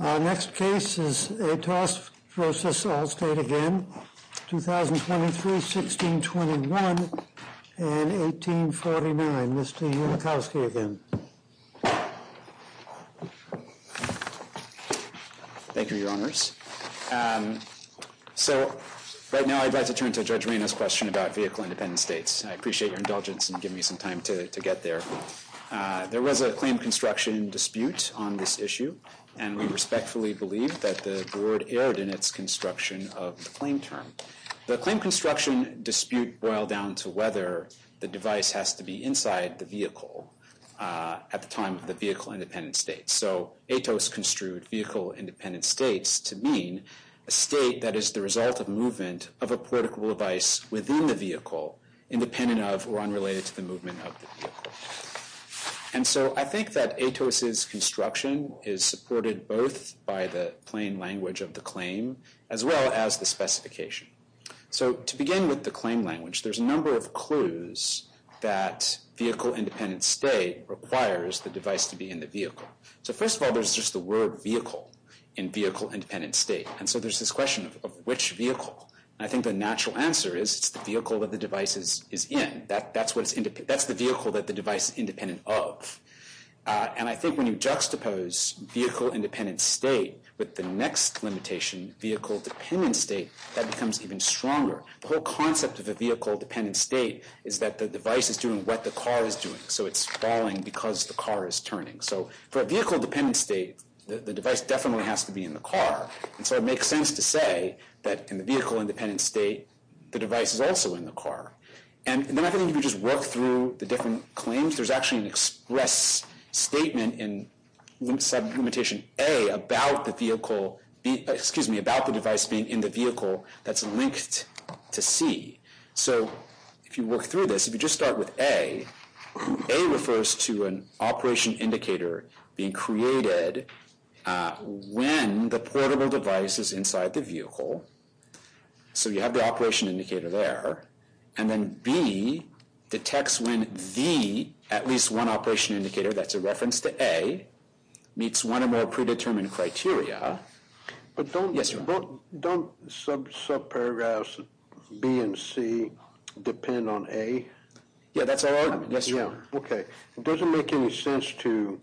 Our next case is ATOS v. Allstate again, 2023, 1621, and 1849. Mr. Unikowski again. Thank you, Your Honors. So, right now I'd like to turn to Judge Reno's question about vehicle-independent states. I appreciate your indulgence in giving me some time to get there. There was a claim construction dispute on this issue, and we respectfully believe that the board erred in its construction of the claim term. The claim construction dispute boiled down to whether the device has to be inside the vehicle at the time of the vehicle-independent state. So, ATOS construed vehicle-independent states to mean a state that is the result of movement of a portable device within the vehicle, independent of or unrelated to the movement of the vehicle. And so, I think that ATOS's construction is supported both by the plain language of the claim, as well as the specification. So, to begin with the claim language, there's a number of clues that vehicle-independent state requires the device to be in the vehicle. So, first of all, there's just the word vehicle in vehicle-independent state. And so, there's this question of which vehicle? And I think the natural answer is, it's the vehicle that the device is in. That's the vehicle that the device is independent of. And I think when you juxtapose vehicle-independent state with the next limitation, vehicle-dependent state, that becomes even stronger. The whole concept of a vehicle-dependent state is that the device is doing what the car is doing. So, it's falling because the car is turning. So, for a vehicle-dependent state, the device definitely has to be in the car. And so, it makes sense to say that in the vehicle-independent state, the device is also in the car. And then I think if you just work through the different claims, I believe there's actually an express statement in sublimitation A about the vehicle, excuse me, about the device being in the vehicle that's linked to C. So, if you work through this, if you just start with A, A refers to an operation indicator being created when the portable device is inside the vehicle. So, you have the operation indicator there. And then B detects when the, at least one operation indicator, that's a reference to A, meets one or more predetermined criteria. Yes, your honor. Don't subparagraphs B and C depend on A? Yeah, that's our argument. Yes, your honor. Okay, it doesn't make any sense to,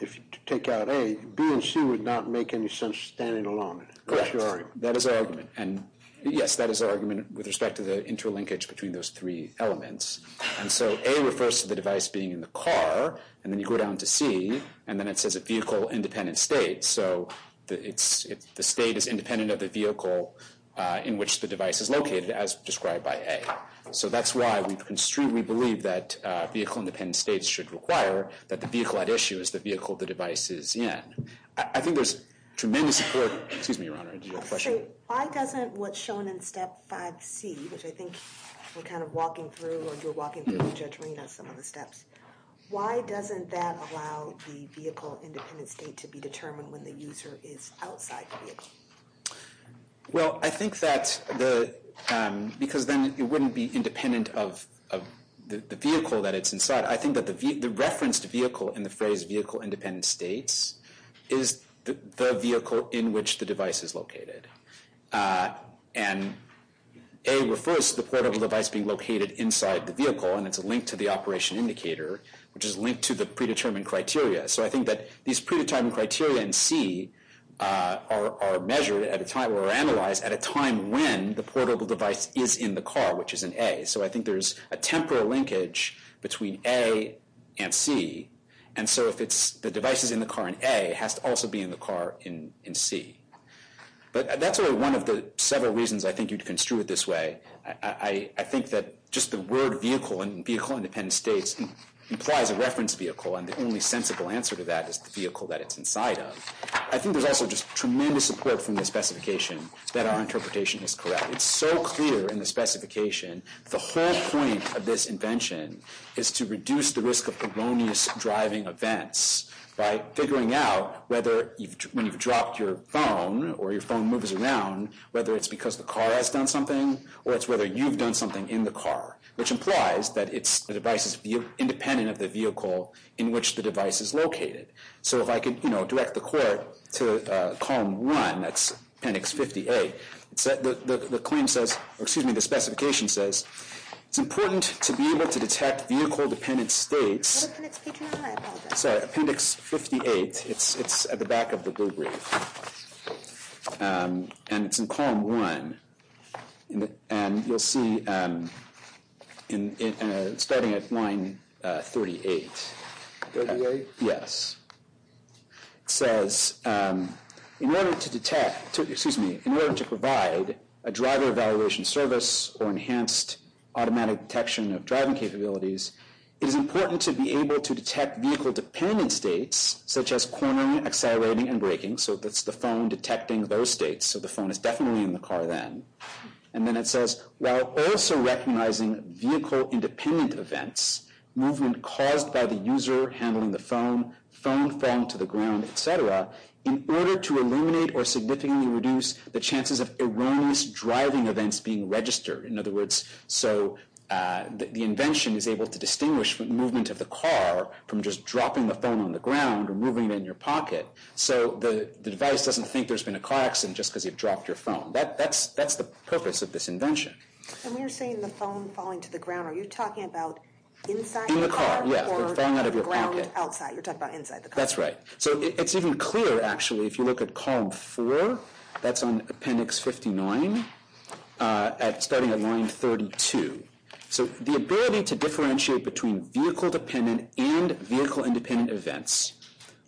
if you take out A, B and C would not make any sense standing alone. Correct. That's your argument. That is our argument. And yes, that is our argument with respect to the interlinkage between those three elements. And so, A refers to the device being in the car, and then you go down to C, and then it says a vehicle independent state. So, the state is independent of the vehicle in which the device is located, as described by A. So, that's why we construtely believe that vehicle independent states should require that the vehicle at issue is the vehicle the device is in. I think there's tremendous support, excuse me, your honor, did you have a question? Why doesn't what's shown in step 5C, which I think we're kind of walking through, or you're walking through, Judge Reina, some of the steps, why doesn't that allow the vehicle independent state to be determined when the user is outside the vehicle? Well, I think that the, because then it wouldn't be independent of the vehicle that it's inside. I think that the referenced vehicle in the phrase vehicle independent states is the vehicle in which the device is located. And A refers to the portable device being located inside the vehicle, and it's a link to the operation indicator, which is linked to the predetermined criteria. So, I think that these predetermined criteria in C are measured at a time, or analyzed at a time when the portable device is in the car, which is in A. So, I think there's a temporal linkage between A and C, and so if the device is in the car in A, it has to also be in the car in C. But that's only one of the several reasons I think you'd construe it this way. I think that just the word vehicle and vehicle independent states implies a reference vehicle, and the only sensible answer to that is the vehicle that it's inside of. I think there's also just tremendous support from the specification that our interpretation is correct. It's so clear in the specification, the whole point of this invention is to reduce the risk of erroneous driving events by figuring out whether when you've dropped your phone, or your phone moves around, whether it's because the car has done something, or it's whether you've done something in the car, which implies that the device is independent of the vehicle in which the device is located. So, if I could direct the court to column one, that's appendix 58, the specification says, it's important to be able to detect vehicle-dependent states. What appendix P can I, I apologize. Sorry, appendix 58, it's at the back of the blue brief. And it's in column one. And you'll see, starting at line 38. 38? Yes. It says, in order to detect, excuse me, in order to provide a driver evaluation service or enhanced automatic detection of driving capabilities, it is important to be able to detect vehicle-dependent states, such as cornering, accelerating, and braking. So, that's the phone detecting those states. So, the phone is definitely in the car then. And then it says, while also recognizing vehicle-independent events, movement caused by the user handling the phone, phone falling to the ground, et cetera, in order to eliminate or significantly reduce the chances of erroneous driving events being registered. In other words, so, the invention is able to distinguish movement of the car from just dropping the phone on the ground or moving it in your pocket. So, the device doesn't think there's been a car accident just because you've dropped your phone. That's the purpose of this invention. And we're seeing the phone falling to the ground. Are you talking about inside the car? In the car, yeah. Or falling out of your pocket. Or falling to the ground outside. You're talking about inside the car. That's right. So, it's even clearer, actually, if you look at column four. That's on appendix 59, starting at line 32. So, the ability to differentiate between vehicle-dependent and vehicle-independent events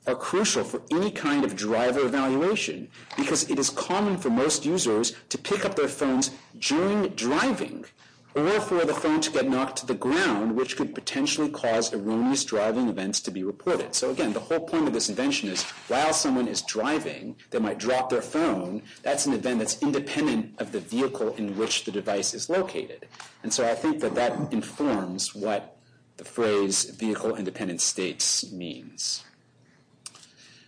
are crucial for any kind of driver evaluation because it is common for most users to pick up their phones during driving or for the phone to get knocked to the ground, which could potentially cause erroneous driving events to be reported. So, again, the whole point of this invention is, while someone is driving, they might drop their phone. That's an event that's independent of the vehicle in which the device is located. And so, I think that that informs what the phrase vehicle-independent states means.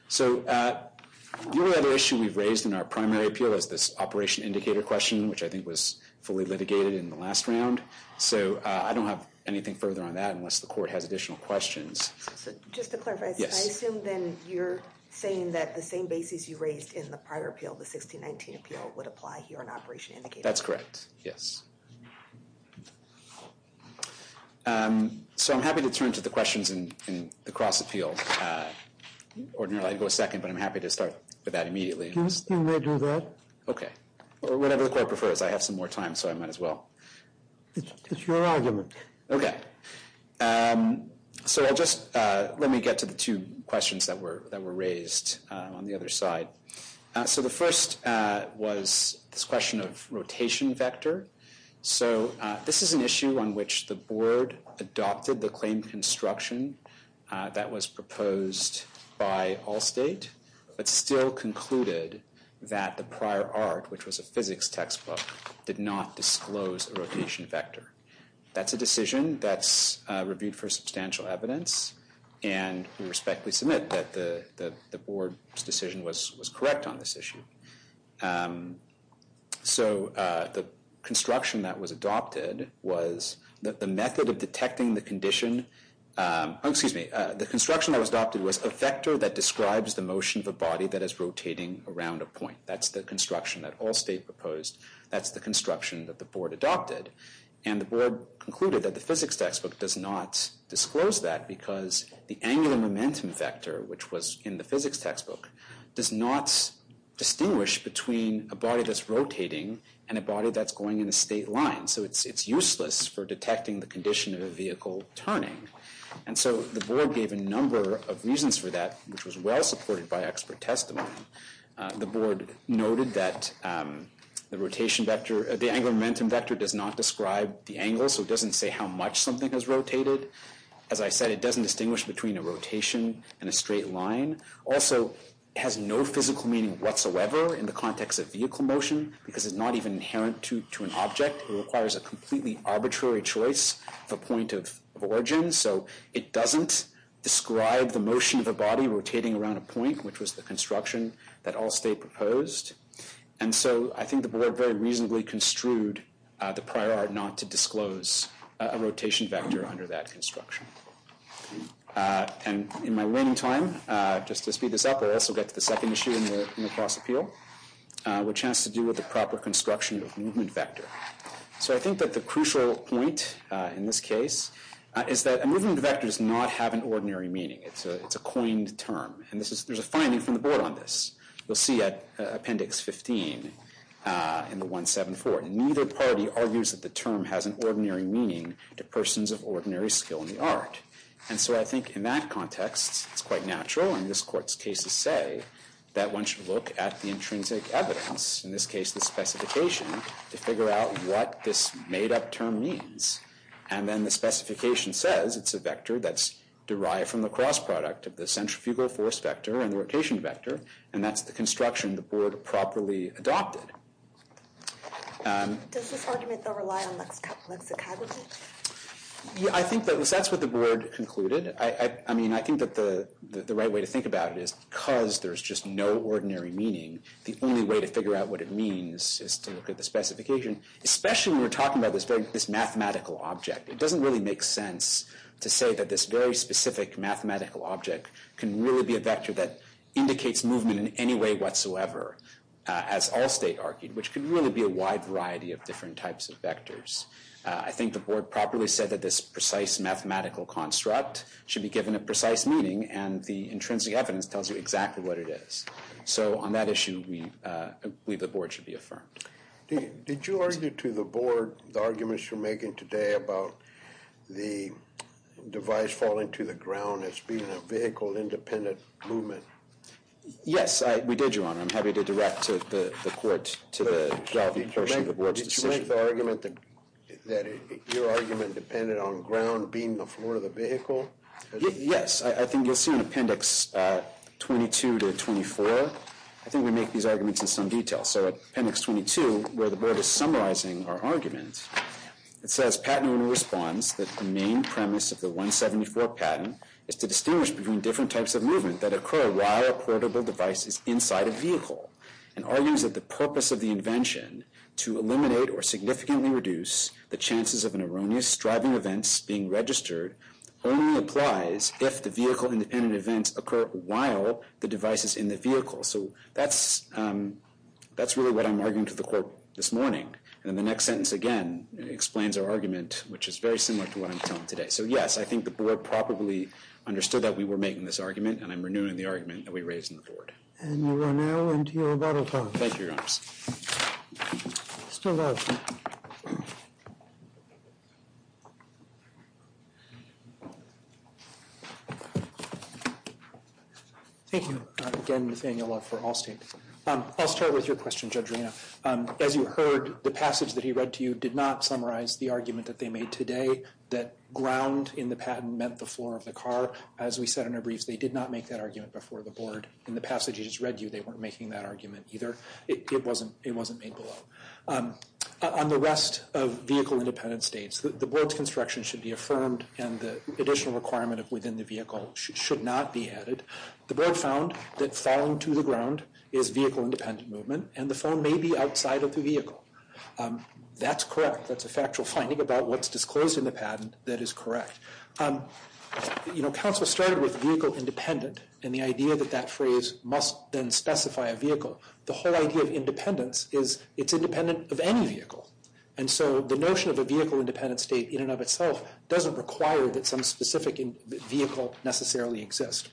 So, the other issue we've raised in our primary appeal is this operation indicator question, which I think was fully litigated in the last round. So, I don't have anything further on that unless the court has additional questions. Just to clarify, I assume then you're saying that the same basis you raised in the prior appeal, the 1619 appeal, would apply here on operation indicator? That's correct, yes. So, I'm happy to turn to the questions in the cross-appeal. Ordinarily, I'd go second, but I'm happy to start with that immediately. You may do that. Okay, or whatever the court prefers. I have some more time, so I might as well. It's your argument. Okay. So, I'll just, let me get to the two questions that were raised on the other side. So, the first was this question of rotation vector. So, this is an issue on which the board adopted the claim construction that was proposed by Allstate, but still concluded that the prior art, which was a physics textbook, did not disclose a rotation vector. That's a decision that's reviewed for substantial evidence, and we respectfully submit that the board's decision was correct on this issue. So, the construction that was adopted was that the method of detecting the condition, oh, excuse me, the construction that was adopted was a vector that describes the motion of a body that is rotating around a point. That's the construction that Allstate proposed. That's the construction that the board adopted. And the board concluded that the physics textbook does not disclose that because the angular momentum vector, which was in the physics textbook, does not distinguish between a body that's rotating and a body that's going in a state line. So, it's useless for detecting the condition of a vehicle turning. And so, the board gave a number of reasons for that, which was well supported by expert testimony. The board noted that the rotation vector, the angular momentum vector does not describe the angle, so it doesn't say how much something has rotated. As I said, it doesn't distinguish between a rotation and a straight line. Also, it has no physical meaning whatsoever in the context of vehicle motion because it's not even inherent to an object. It requires a completely arbitrary choice of a point of origin. So, it doesn't describe the motion of a body rotating around a point, which was the construction that Allstate proposed. And so, I think the board very reasonably construed the prior art not to disclose a rotation vector under that construction. And in my remaining time, just to speed this up, I'll also get to the second issue in the cross appeal, which has to do with the proper construction of movement vector. So, I think that the crucial point in this case is that a movement vector does not have an ordinary meaning. It's a coined term. And there's a finding from the board on this. You'll see at appendix 15 in the 174, neither party argues that the term has an ordinary meaning to persons of ordinary skill in the art. And so, I think in that context, it's quite natural, and this court's cases say, that one should look at the intrinsic evidence, in this case, the specification, to figure out what this made up term means. And then the specification says it's a vector that's derived from the cross product of the centrifugal force vector and rotation vector, and that's the construction the board properly adopted. Does this argument, though, rely on lexicality? Yeah, I think that's what the board concluded. I mean, I think that the right way to think about it is because there's just no ordinary meaning, the only way to figure out what it means is to look at the specification, especially when we're talking about this mathematical object. It doesn't really make sense to say that this very specific mathematical object can really be a vector that indicates movement in any way whatsoever, as all state argued, which could really be a wide variety of different types of vectors. I think the board properly said that this precise mathematical construct should be given a precise meaning, and the intrinsic evidence tells you exactly what it is. So, on that issue, we believe the board should be affirmed. Did you argue to the board, the arguments you're making today about the device falling to the ground as being a vehicle-independent movement? Yes, we did, Your Honor. I'm happy to direct the court to the Galvey version of the board's decision. Did you make the argument that your argument depended on ground being the floor of the vehicle? Yes, I think you'll see in Appendix 22 to 24, I think we make these arguments in some detail. So, Appendix 22, where the board is summarizing our argument, it says, patent owner responds that the main premise of the 174 patent is to distinguish between different types of movement that occur while a portable device is inside a vehicle, and argues that the purpose of the invention to eliminate or significantly reduce the chances of an erroneous driving event being registered only applies if the vehicle-independent events occur while the device is in the vehicle. So, that's really what I'm arguing to the court this morning and the next sentence, again, explains our argument, which is very similar to what I'm telling today. So, yes, I think the board probably understood that we were making this argument, and I'm renewing the argument that we raised in the board. And you are now into your battle time. Thank you, Your Honor. Still live. Thank you, again, Nathaniel Love for Allstate. I'll start with your question, Judge Arena. As you heard, the passage that he read to you did not summarize the argument that they made today that ground in the patent meant the floor of the car. As we said in our briefs, they did not make that argument before the board. In the passage he just read to you, they weren't making that argument either. It wasn't made below. On the rest of vehicle-independent states, the board's construction should be affirmed, and the additional requirement within the vehicle should not be added. The board found that falling to the ground is vehicle-independent movement, and the phone may be outside of the vehicle. That's correct. That's a factual finding about what's disclosed in the patent that is correct. You know, counsel started with vehicle-independent, and the idea that that phrase must then specify a vehicle. The whole idea of independence is it's independent of any vehicle. And so the notion of a vehicle-independent state in and of itself doesn't require that some specific vehicle necessarily exist.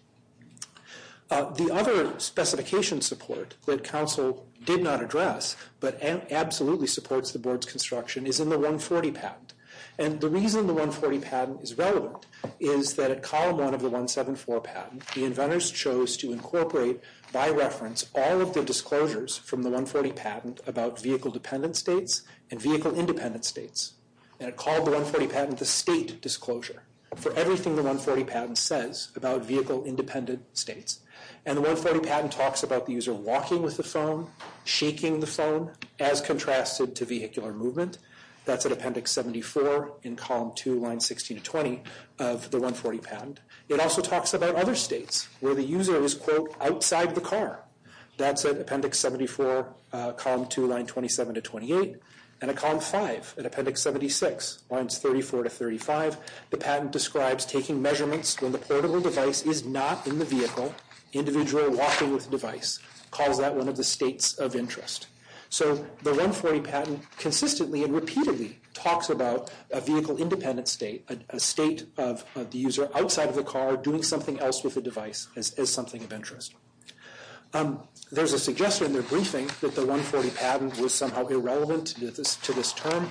The other specification support that counsel did not address, but absolutely supports the board's construction, is in the 140 patent. And the reason the 140 patent is relevant is that at column one of the 174 patent, the inventors chose to incorporate, by reference, all of the disclosures from the 140 patent about vehicle-dependent states and vehicle-independent states. And it called the 140 patent the state disclosure for everything the 140 patent says about vehicle-independent states. And the 140 patent talks about the user walking with the phone, shaking the phone, as contrasted to vehicular movement. That's at appendix 74 in column two, lines 16 to 20 of the 140 patent. It also talks about other states where the user is, quote, outside the car. That's at appendix 74, column two, line 27 to 28. And at column five, at appendix 76, lines 34 to 35, the patent describes taking measurements when the portable device is not in the vehicle. Individual walking with the device. Calls that one of the states of interest. So the 140 patent consistently and repeatedly talks about a vehicle-independent state, a state of the user outside of the car doing something else with the device as something of interest. There's a suggestion in their briefing that the 140 patent was somehow irrelevant to this term.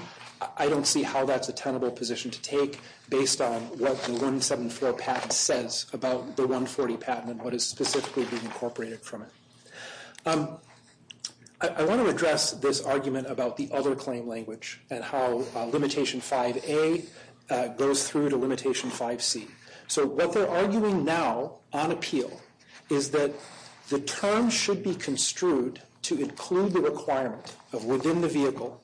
I don't see how that's a tenable position to take based on what the 174 patent says about the 140 patent and what is specifically being incorporated from it. I want to address this argument about the other claim language and how limitation 5A goes through to limitation 5C. So what they're arguing now on appeal is that the term should be construed to include the requirement of within the vehicle,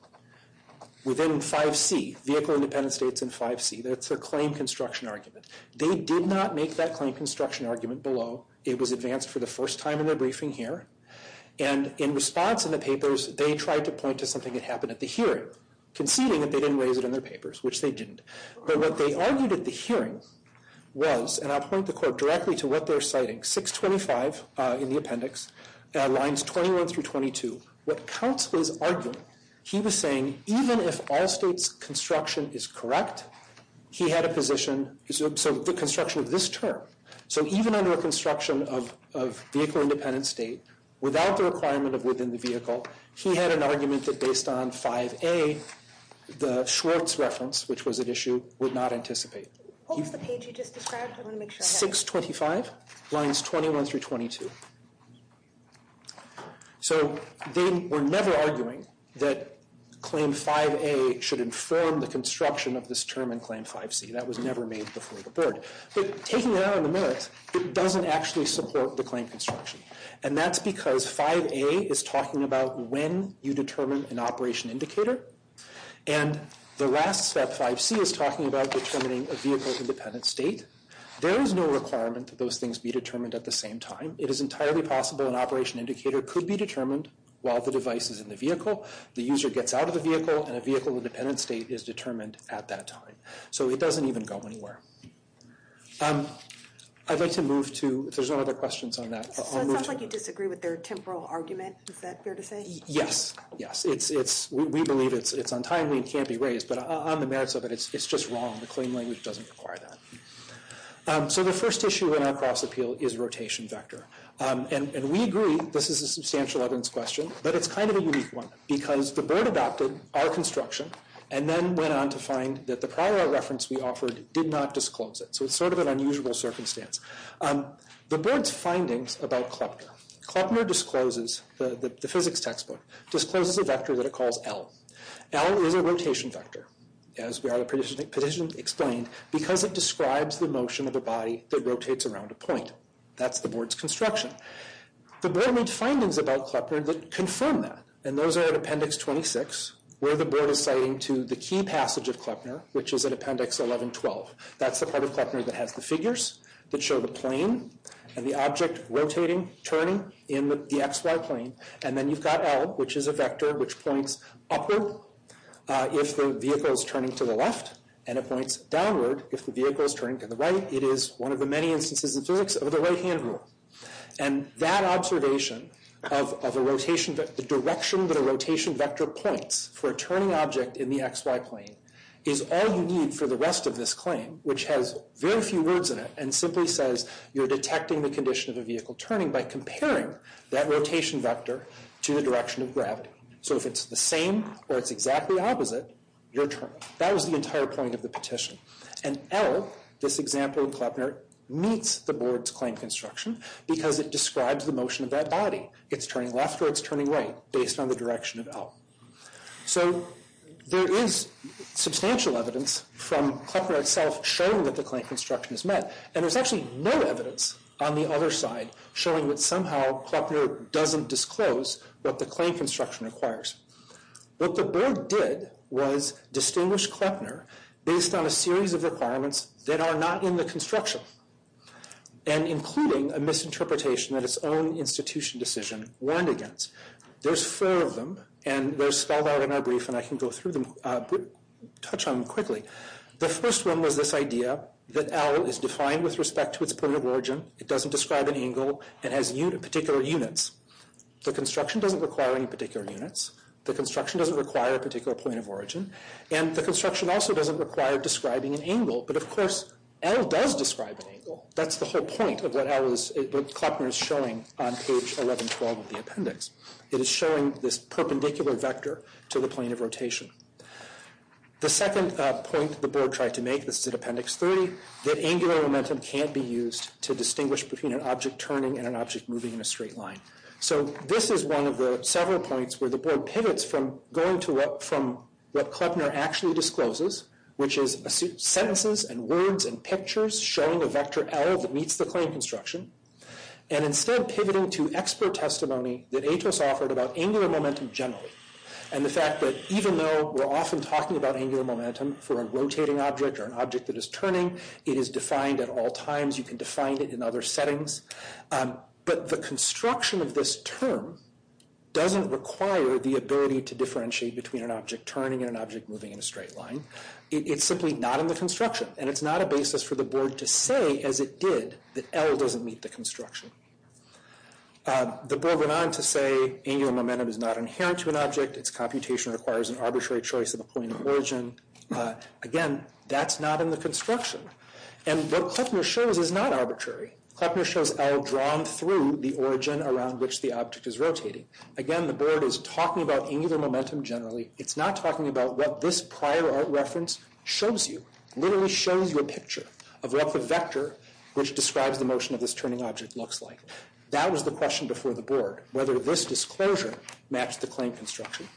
within 5C, vehicle-independent states in 5C. That's a claim construction argument. They did not make that claim construction argument below. It was advanced for the first time in their briefing here. And in response in the papers, they tried to point to something that happened at the hearing conceding that they didn't raise it in their papers, which they didn't. But what they argued at the hearing was, and I'll point the court directly to what they're citing, 625 in the appendix, lines 21 through 22. What Counts was arguing, he was saying even if all states' construction is correct, he had a position, so the construction of this term. So even under a construction of vehicle-independent state, without the requirement of within the vehicle, he had an argument that based on 5A, the Schwartz reference, which was at issue, would not anticipate. What was the page you just described? I wanna make sure I have it. 625, lines 21 through 22. So they were never arguing that claim 5A should inform the construction of this term in claim 5C. That was never made before the board. But taking that out in a minute, it doesn't actually support the claim construction. And that's because 5A is talking about when you determine an operation indicator. And the last step, 5C, is talking about determining a vehicle-independent state. There is no requirement that those things be determined at the same time. It is entirely possible an operation indicator could be determined while the device is in the vehicle, the user gets out of the vehicle, and a vehicle-independent state is determined at that time. So it doesn't even go anywhere. I'd like to move to, if there's no other questions on that, I'll move to. So it sounds like you disagree with their temporal argument. Is that fair to say? Yes, yes. We believe it's untimely and can't be raised. But on the merits of it, it's just wrong. The claim language doesn't require that. So the first issue in our cross-appeal is rotation vector. And we agree, this is a substantial evidence question, but it's kind of a unique one. Because the board adopted our construction and then went on to find that the prior reference we offered did not disclose it. So it's sort of an unusual circumstance. The board's findings about Kleppner. Kleppner discloses, the physics textbook, discloses a vector that it calls L. L is a rotation vector, as the petition explained, because it describes the motion of a body that rotates around a point. That's the board's construction. The board made findings about Kleppner that confirm that. And those are in appendix 26, where the board is citing to the key passage of Kleppner, which is in appendix 1112. That's the part of Kleppner that has the figures, that show the plane and the object rotating, turning in the XY plane. And then you've got L, which is a vector which points upward if the vehicle is turning to the left. And it points downward if the vehicle is turning to the right. It is one of the many instances in physics of the right-hand rule. And that observation of a rotation, the direction that a rotation vector points for a turning object in the XY plane is all you need for the rest of this claim, which has very few words in it and simply says, you're detecting the condition of a vehicle turning by comparing that rotation vector to the direction of gravity. So if it's the same or it's exactly opposite, you're turning. That was the entire point of the petition. And L, this example in Kleppner, meets the board's claim construction because it describes the motion of that body. It's turning left or it's turning right, based on the direction of L. So there is substantial evidence from Kleppner itself showing that the claim construction is met. And there's actually no evidence on the other side showing that somehow Kleppner doesn't disclose what the claim construction requires. What the board did was distinguish Kleppner based on a series of requirements that are not in the construction, and including a misinterpretation that its own institution decision warned against. There's four of them, and they're spelled out in our brief, and I can go through them, touch on them quickly. The first one was this idea that L is defined with respect to its point of origin. It doesn't describe an angle. It has particular units. The construction doesn't require any particular units. The construction doesn't require a particular point of origin. And the construction also doesn't require describing an angle. But of course, L does describe an angle. That's the whole point of what Kleppner is showing on page 1112 of the appendix. It is showing this perpendicular vector to the plane of rotation. The second point the board tried to make, this is at appendix three, that angular momentum can't be used to distinguish between an object turning and an object moving in a straight line. So this is one of the several points where the board pivots from going to what, from what Kleppner actually discloses, which is sentences and words and pictures showing a vector L that meets the claim construction, and instead pivoting to expert testimony that Atos offered about angular momentum generally. And the fact that even though we're often talking about angular momentum for a rotating object or an object that is turning, it is defined at all times. You can define it in other settings. But the construction of this term doesn't require the ability to differentiate between an object turning and an object moving in a straight line. It's simply not in the construction. And it's not a basis for the board to say, as it did, that L doesn't meet the construction. The board went on to say angular momentum is not inherent to an object. Its computation requires an arbitrary choice of a point of origin. Again, that's not in the construction. And what Kleppner shows is not arbitrary. Kleppner shows L drawn through the origin around which the object is rotating. Again, the board is talking about angular momentum generally. It's not talking about what this prior art reference shows you, literally shows you a picture of what the vector which describes the motion of this turning object looks like. That was the question before the board, whether this disclosure matched the claim construction.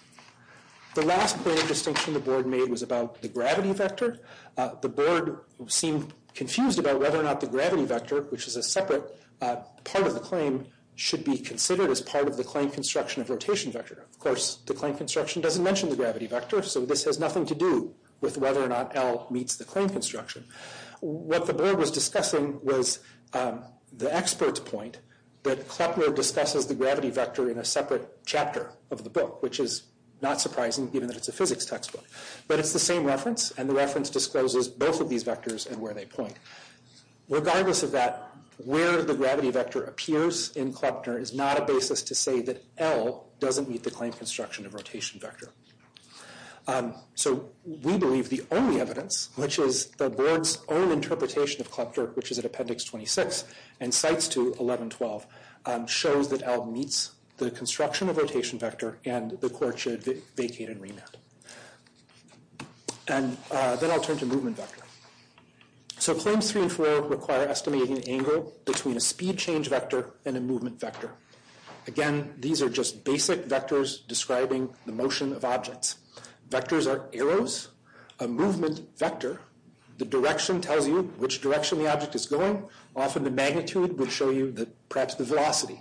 The last point of distinction the board made was about the gravity vector. The board seemed confused about whether or not the gravity vector, which is a separate part of the claim, should be considered as part of the claim construction of rotation vector. Of course, the claim construction doesn't mention the gravity vector, so this has nothing to do with whether or not L meets the claim construction. What the board was discussing was the expert's point that Kleppner discusses the gravity vector in a separate chapter of the book, which is not surprising given that it's a physics textbook. But it's the same reference, and the reference discloses both of these vectors and where they point. Regardless of that, where the gravity vector appears in Kleppner is not a basis to say that L doesn't meet the claim construction of rotation vector. So we believe the only evidence, which is the board's own interpretation of Kleppner, which is at appendix 26, and cites to 11.12, shows that L meets the construction of rotation vector and the court should vacate and remand. And then I'll turn to movement vector. So claims three and four require estimating the angle between a speed change vector and a movement vector. Again, these are just basic vectors describing the motion of objects. Vectors are arrows, a movement vector. The direction tells you which direction the object is going. Often the magnitude would show you perhaps the velocity.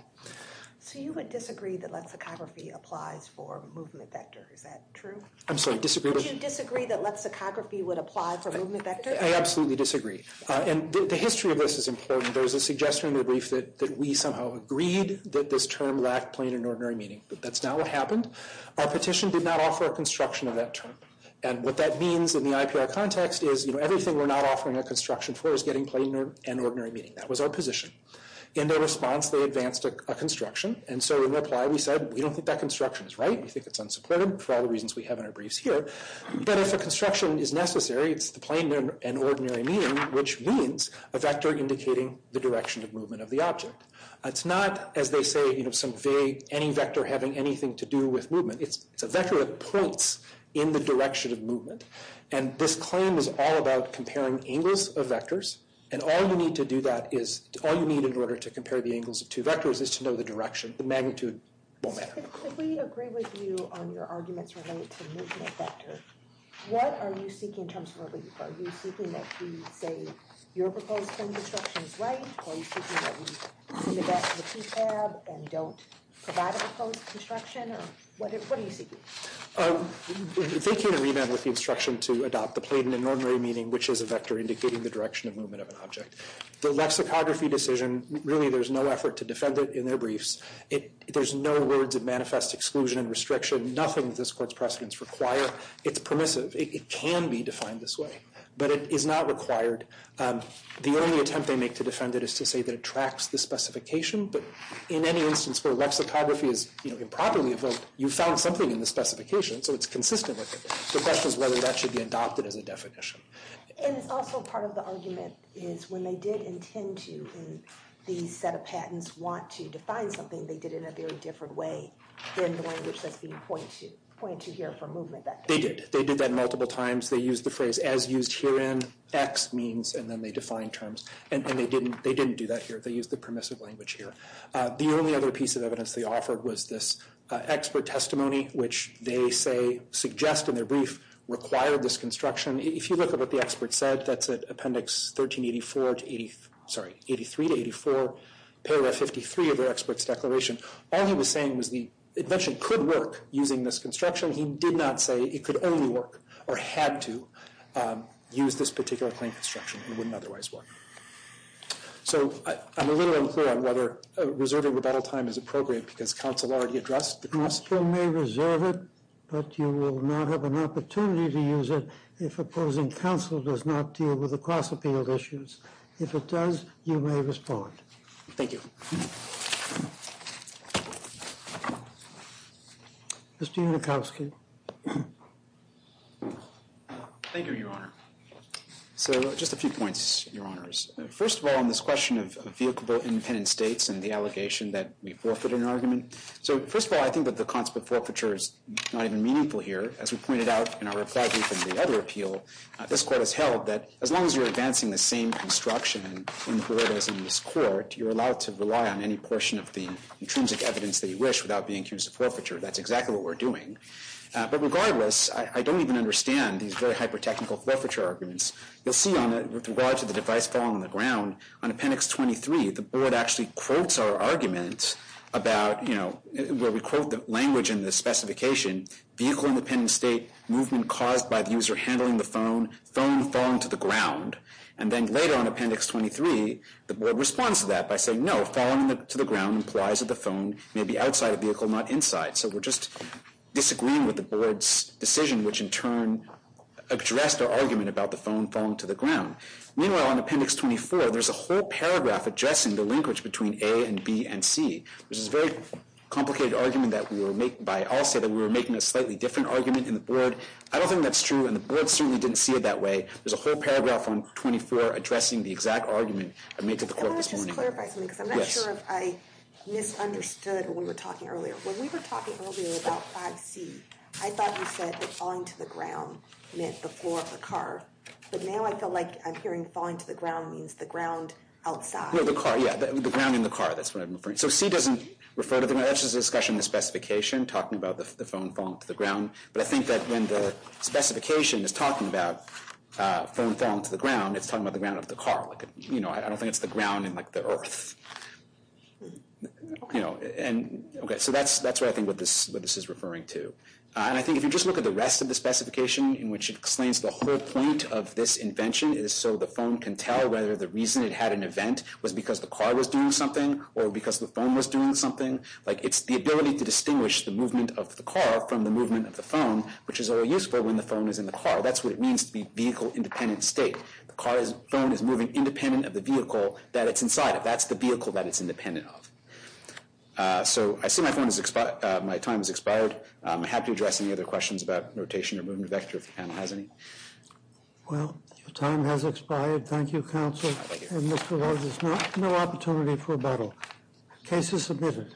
So you would disagree that lexicography applies for movement vector, is that true? I'm sorry, disagree with? Would you disagree that lexicography would apply for movement vector? I absolutely disagree. And the history of this is important. There's a suggestion in the brief that we somehow agreed that this term lacked plain and ordinary meaning. But that's not what happened. Our petition did not offer a construction of that term. And what that means in the IPR context is, everything we're not offering a construction for is getting plain and ordinary meaning. That was our position. In their response, they advanced a construction. And so in reply, we said, we don't think that construction is right. We think it's unsupported for all the reasons we have in our briefs here. But if a construction is necessary, it's the plain and ordinary meaning, which means a vector indicating the direction of movement of the object. It's not, as they say, any vector having anything to do with movement. It's a vector that points in the direction of movement. And this claim is all about comparing angles of vectors. And all you need to do that is, all you need in order to compare the angles of two vectors is to know the direction. The magnitude won't matter. If we agree with you on your arguments related to movement vector, what are you seeking in terms of our brief? Are you seeking that we say, your proposed term of construction is right? Are you seeking that we see the back of the T-tab and don't provide a proposed construction? Or what are you seeking? They can agree, then, with the instruction to adopt the plain and ordinary meaning, which is a vector indicating the direction of movement of an object. The lexicography decision, really there's no effort to defend it in their briefs. There's no words that manifest exclusion and restriction. Nothing that this court's precedents require. It's permissive. It can be defined this way. But it is not required. The only attempt they make to defend it is to say that it tracks the specification. But in any instance where lexicography is improperly evoked, you found something in the specification, so it's consistent with it. The question is whether that should be adopted as a definition. And it's also part of the argument is when they did intend to in these set of patents want to define something, they did it in a very different way than the language that's being pointed to here for movement vector. They did. They did that multiple times. They used the phrase, as used herein, X means, and then they defined terms. And they didn't do that here. They used the permissive language here. The only other piece of evidence they offered was this expert testimony, which they say, suggest in their brief, required this construction. If you look at what the expert said, that's at appendix 1384 to 83 to 84, paragraph 53 of their expert's declaration. All he was saying was the invention could work using this construction. He did not say it could only work or had to use this particular claim construction. It wouldn't otherwise work. So, I'm a little unclear on whether reserving rebuttal time is appropriate because counsel already addressed the cross- You may reserve it, but you will not have an opportunity to use it if opposing counsel does not deal with the cross-appeal issues. If it does, you may respond. Thank you. Mr. Unikowski. Thank you, Your Honor. So, just a few points, Your Honors. First of all, on this question of vehiclable independent states and the allegation that we forfeited an argument. So, first of all, I think that the concept of forfeiture is not even meaningful here. As we pointed out in our reply brief in the other appeal, this court has held that as long as you're advancing the same construction and imperatives in this court, you're allowed to rely on any portion of the intrinsic evidence that you wish without being accused of forfeiture. That's exactly what we're doing. But regardless, I don't even understand these very hyper-technical forfeiture arguments. You'll see on it, with regard to the device falling on the ground, on Appendix 23, the board actually quotes our argument about, you know, where we quote the language in the specification, vehicle independent state, movement caused by the user handling the phone, phone falling to the ground. And then later on Appendix 23, the board responds to that by saying, no, falling to the ground implies that the phone may be outside a vehicle, not inside. So, we're just disagreeing with the board's decision, which in turn addressed our argument about the phone falling to the ground. Meanwhile, on Appendix 24, there's a whole paragraph addressing the linkage between A and B and C, which is a very complicated argument that we were making by, I'll say that we were making a slightly different argument in the board. I don't think that's true, and the board certainly didn't see it that way. There's a whole paragraph on 24 addressing the exact argument I made to the court this morning. I want to just clarify something, because I'm not sure if I misunderstood when we were talking earlier. When we were talking earlier about 5C, I thought you said that falling to the ground meant the floor of the car, but now I feel like I'm hearing falling to the ground means the ground outside. No, the car, yeah, the ground in the car, that's what I'm referring to. So, C doesn't refer to the ground, that's just a discussion in the specification, talking about the phone falling to the ground, but I think that when the specification is talking about phone falling to the ground, it's talking about the ground of the car. You know, I don't think it's the ground in like the earth. You know, and, okay, so that's what I think what this is referring to. And I think if you just look at the rest of the specification, in which it explains the whole point of this invention, is so the phone can tell whether the reason it had an event was because the car was doing something or because the phone was doing something. Like, it's the ability to distinguish the movement of the car from the movement of the phone, which is only useful when the phone is in the car. That's what it means to be vehicle-independent state. The phone is moving independent of the vehicle that it's inside of. That's the vehicle that it's independent of. So, I see my time has expired. I'm happy to address any other questions about rotation or movement of vector if the panel has any. Well, your time has expired. Thank you, counsel. And Mr. Rose, there's no opportunity for a battle. Case is submitted.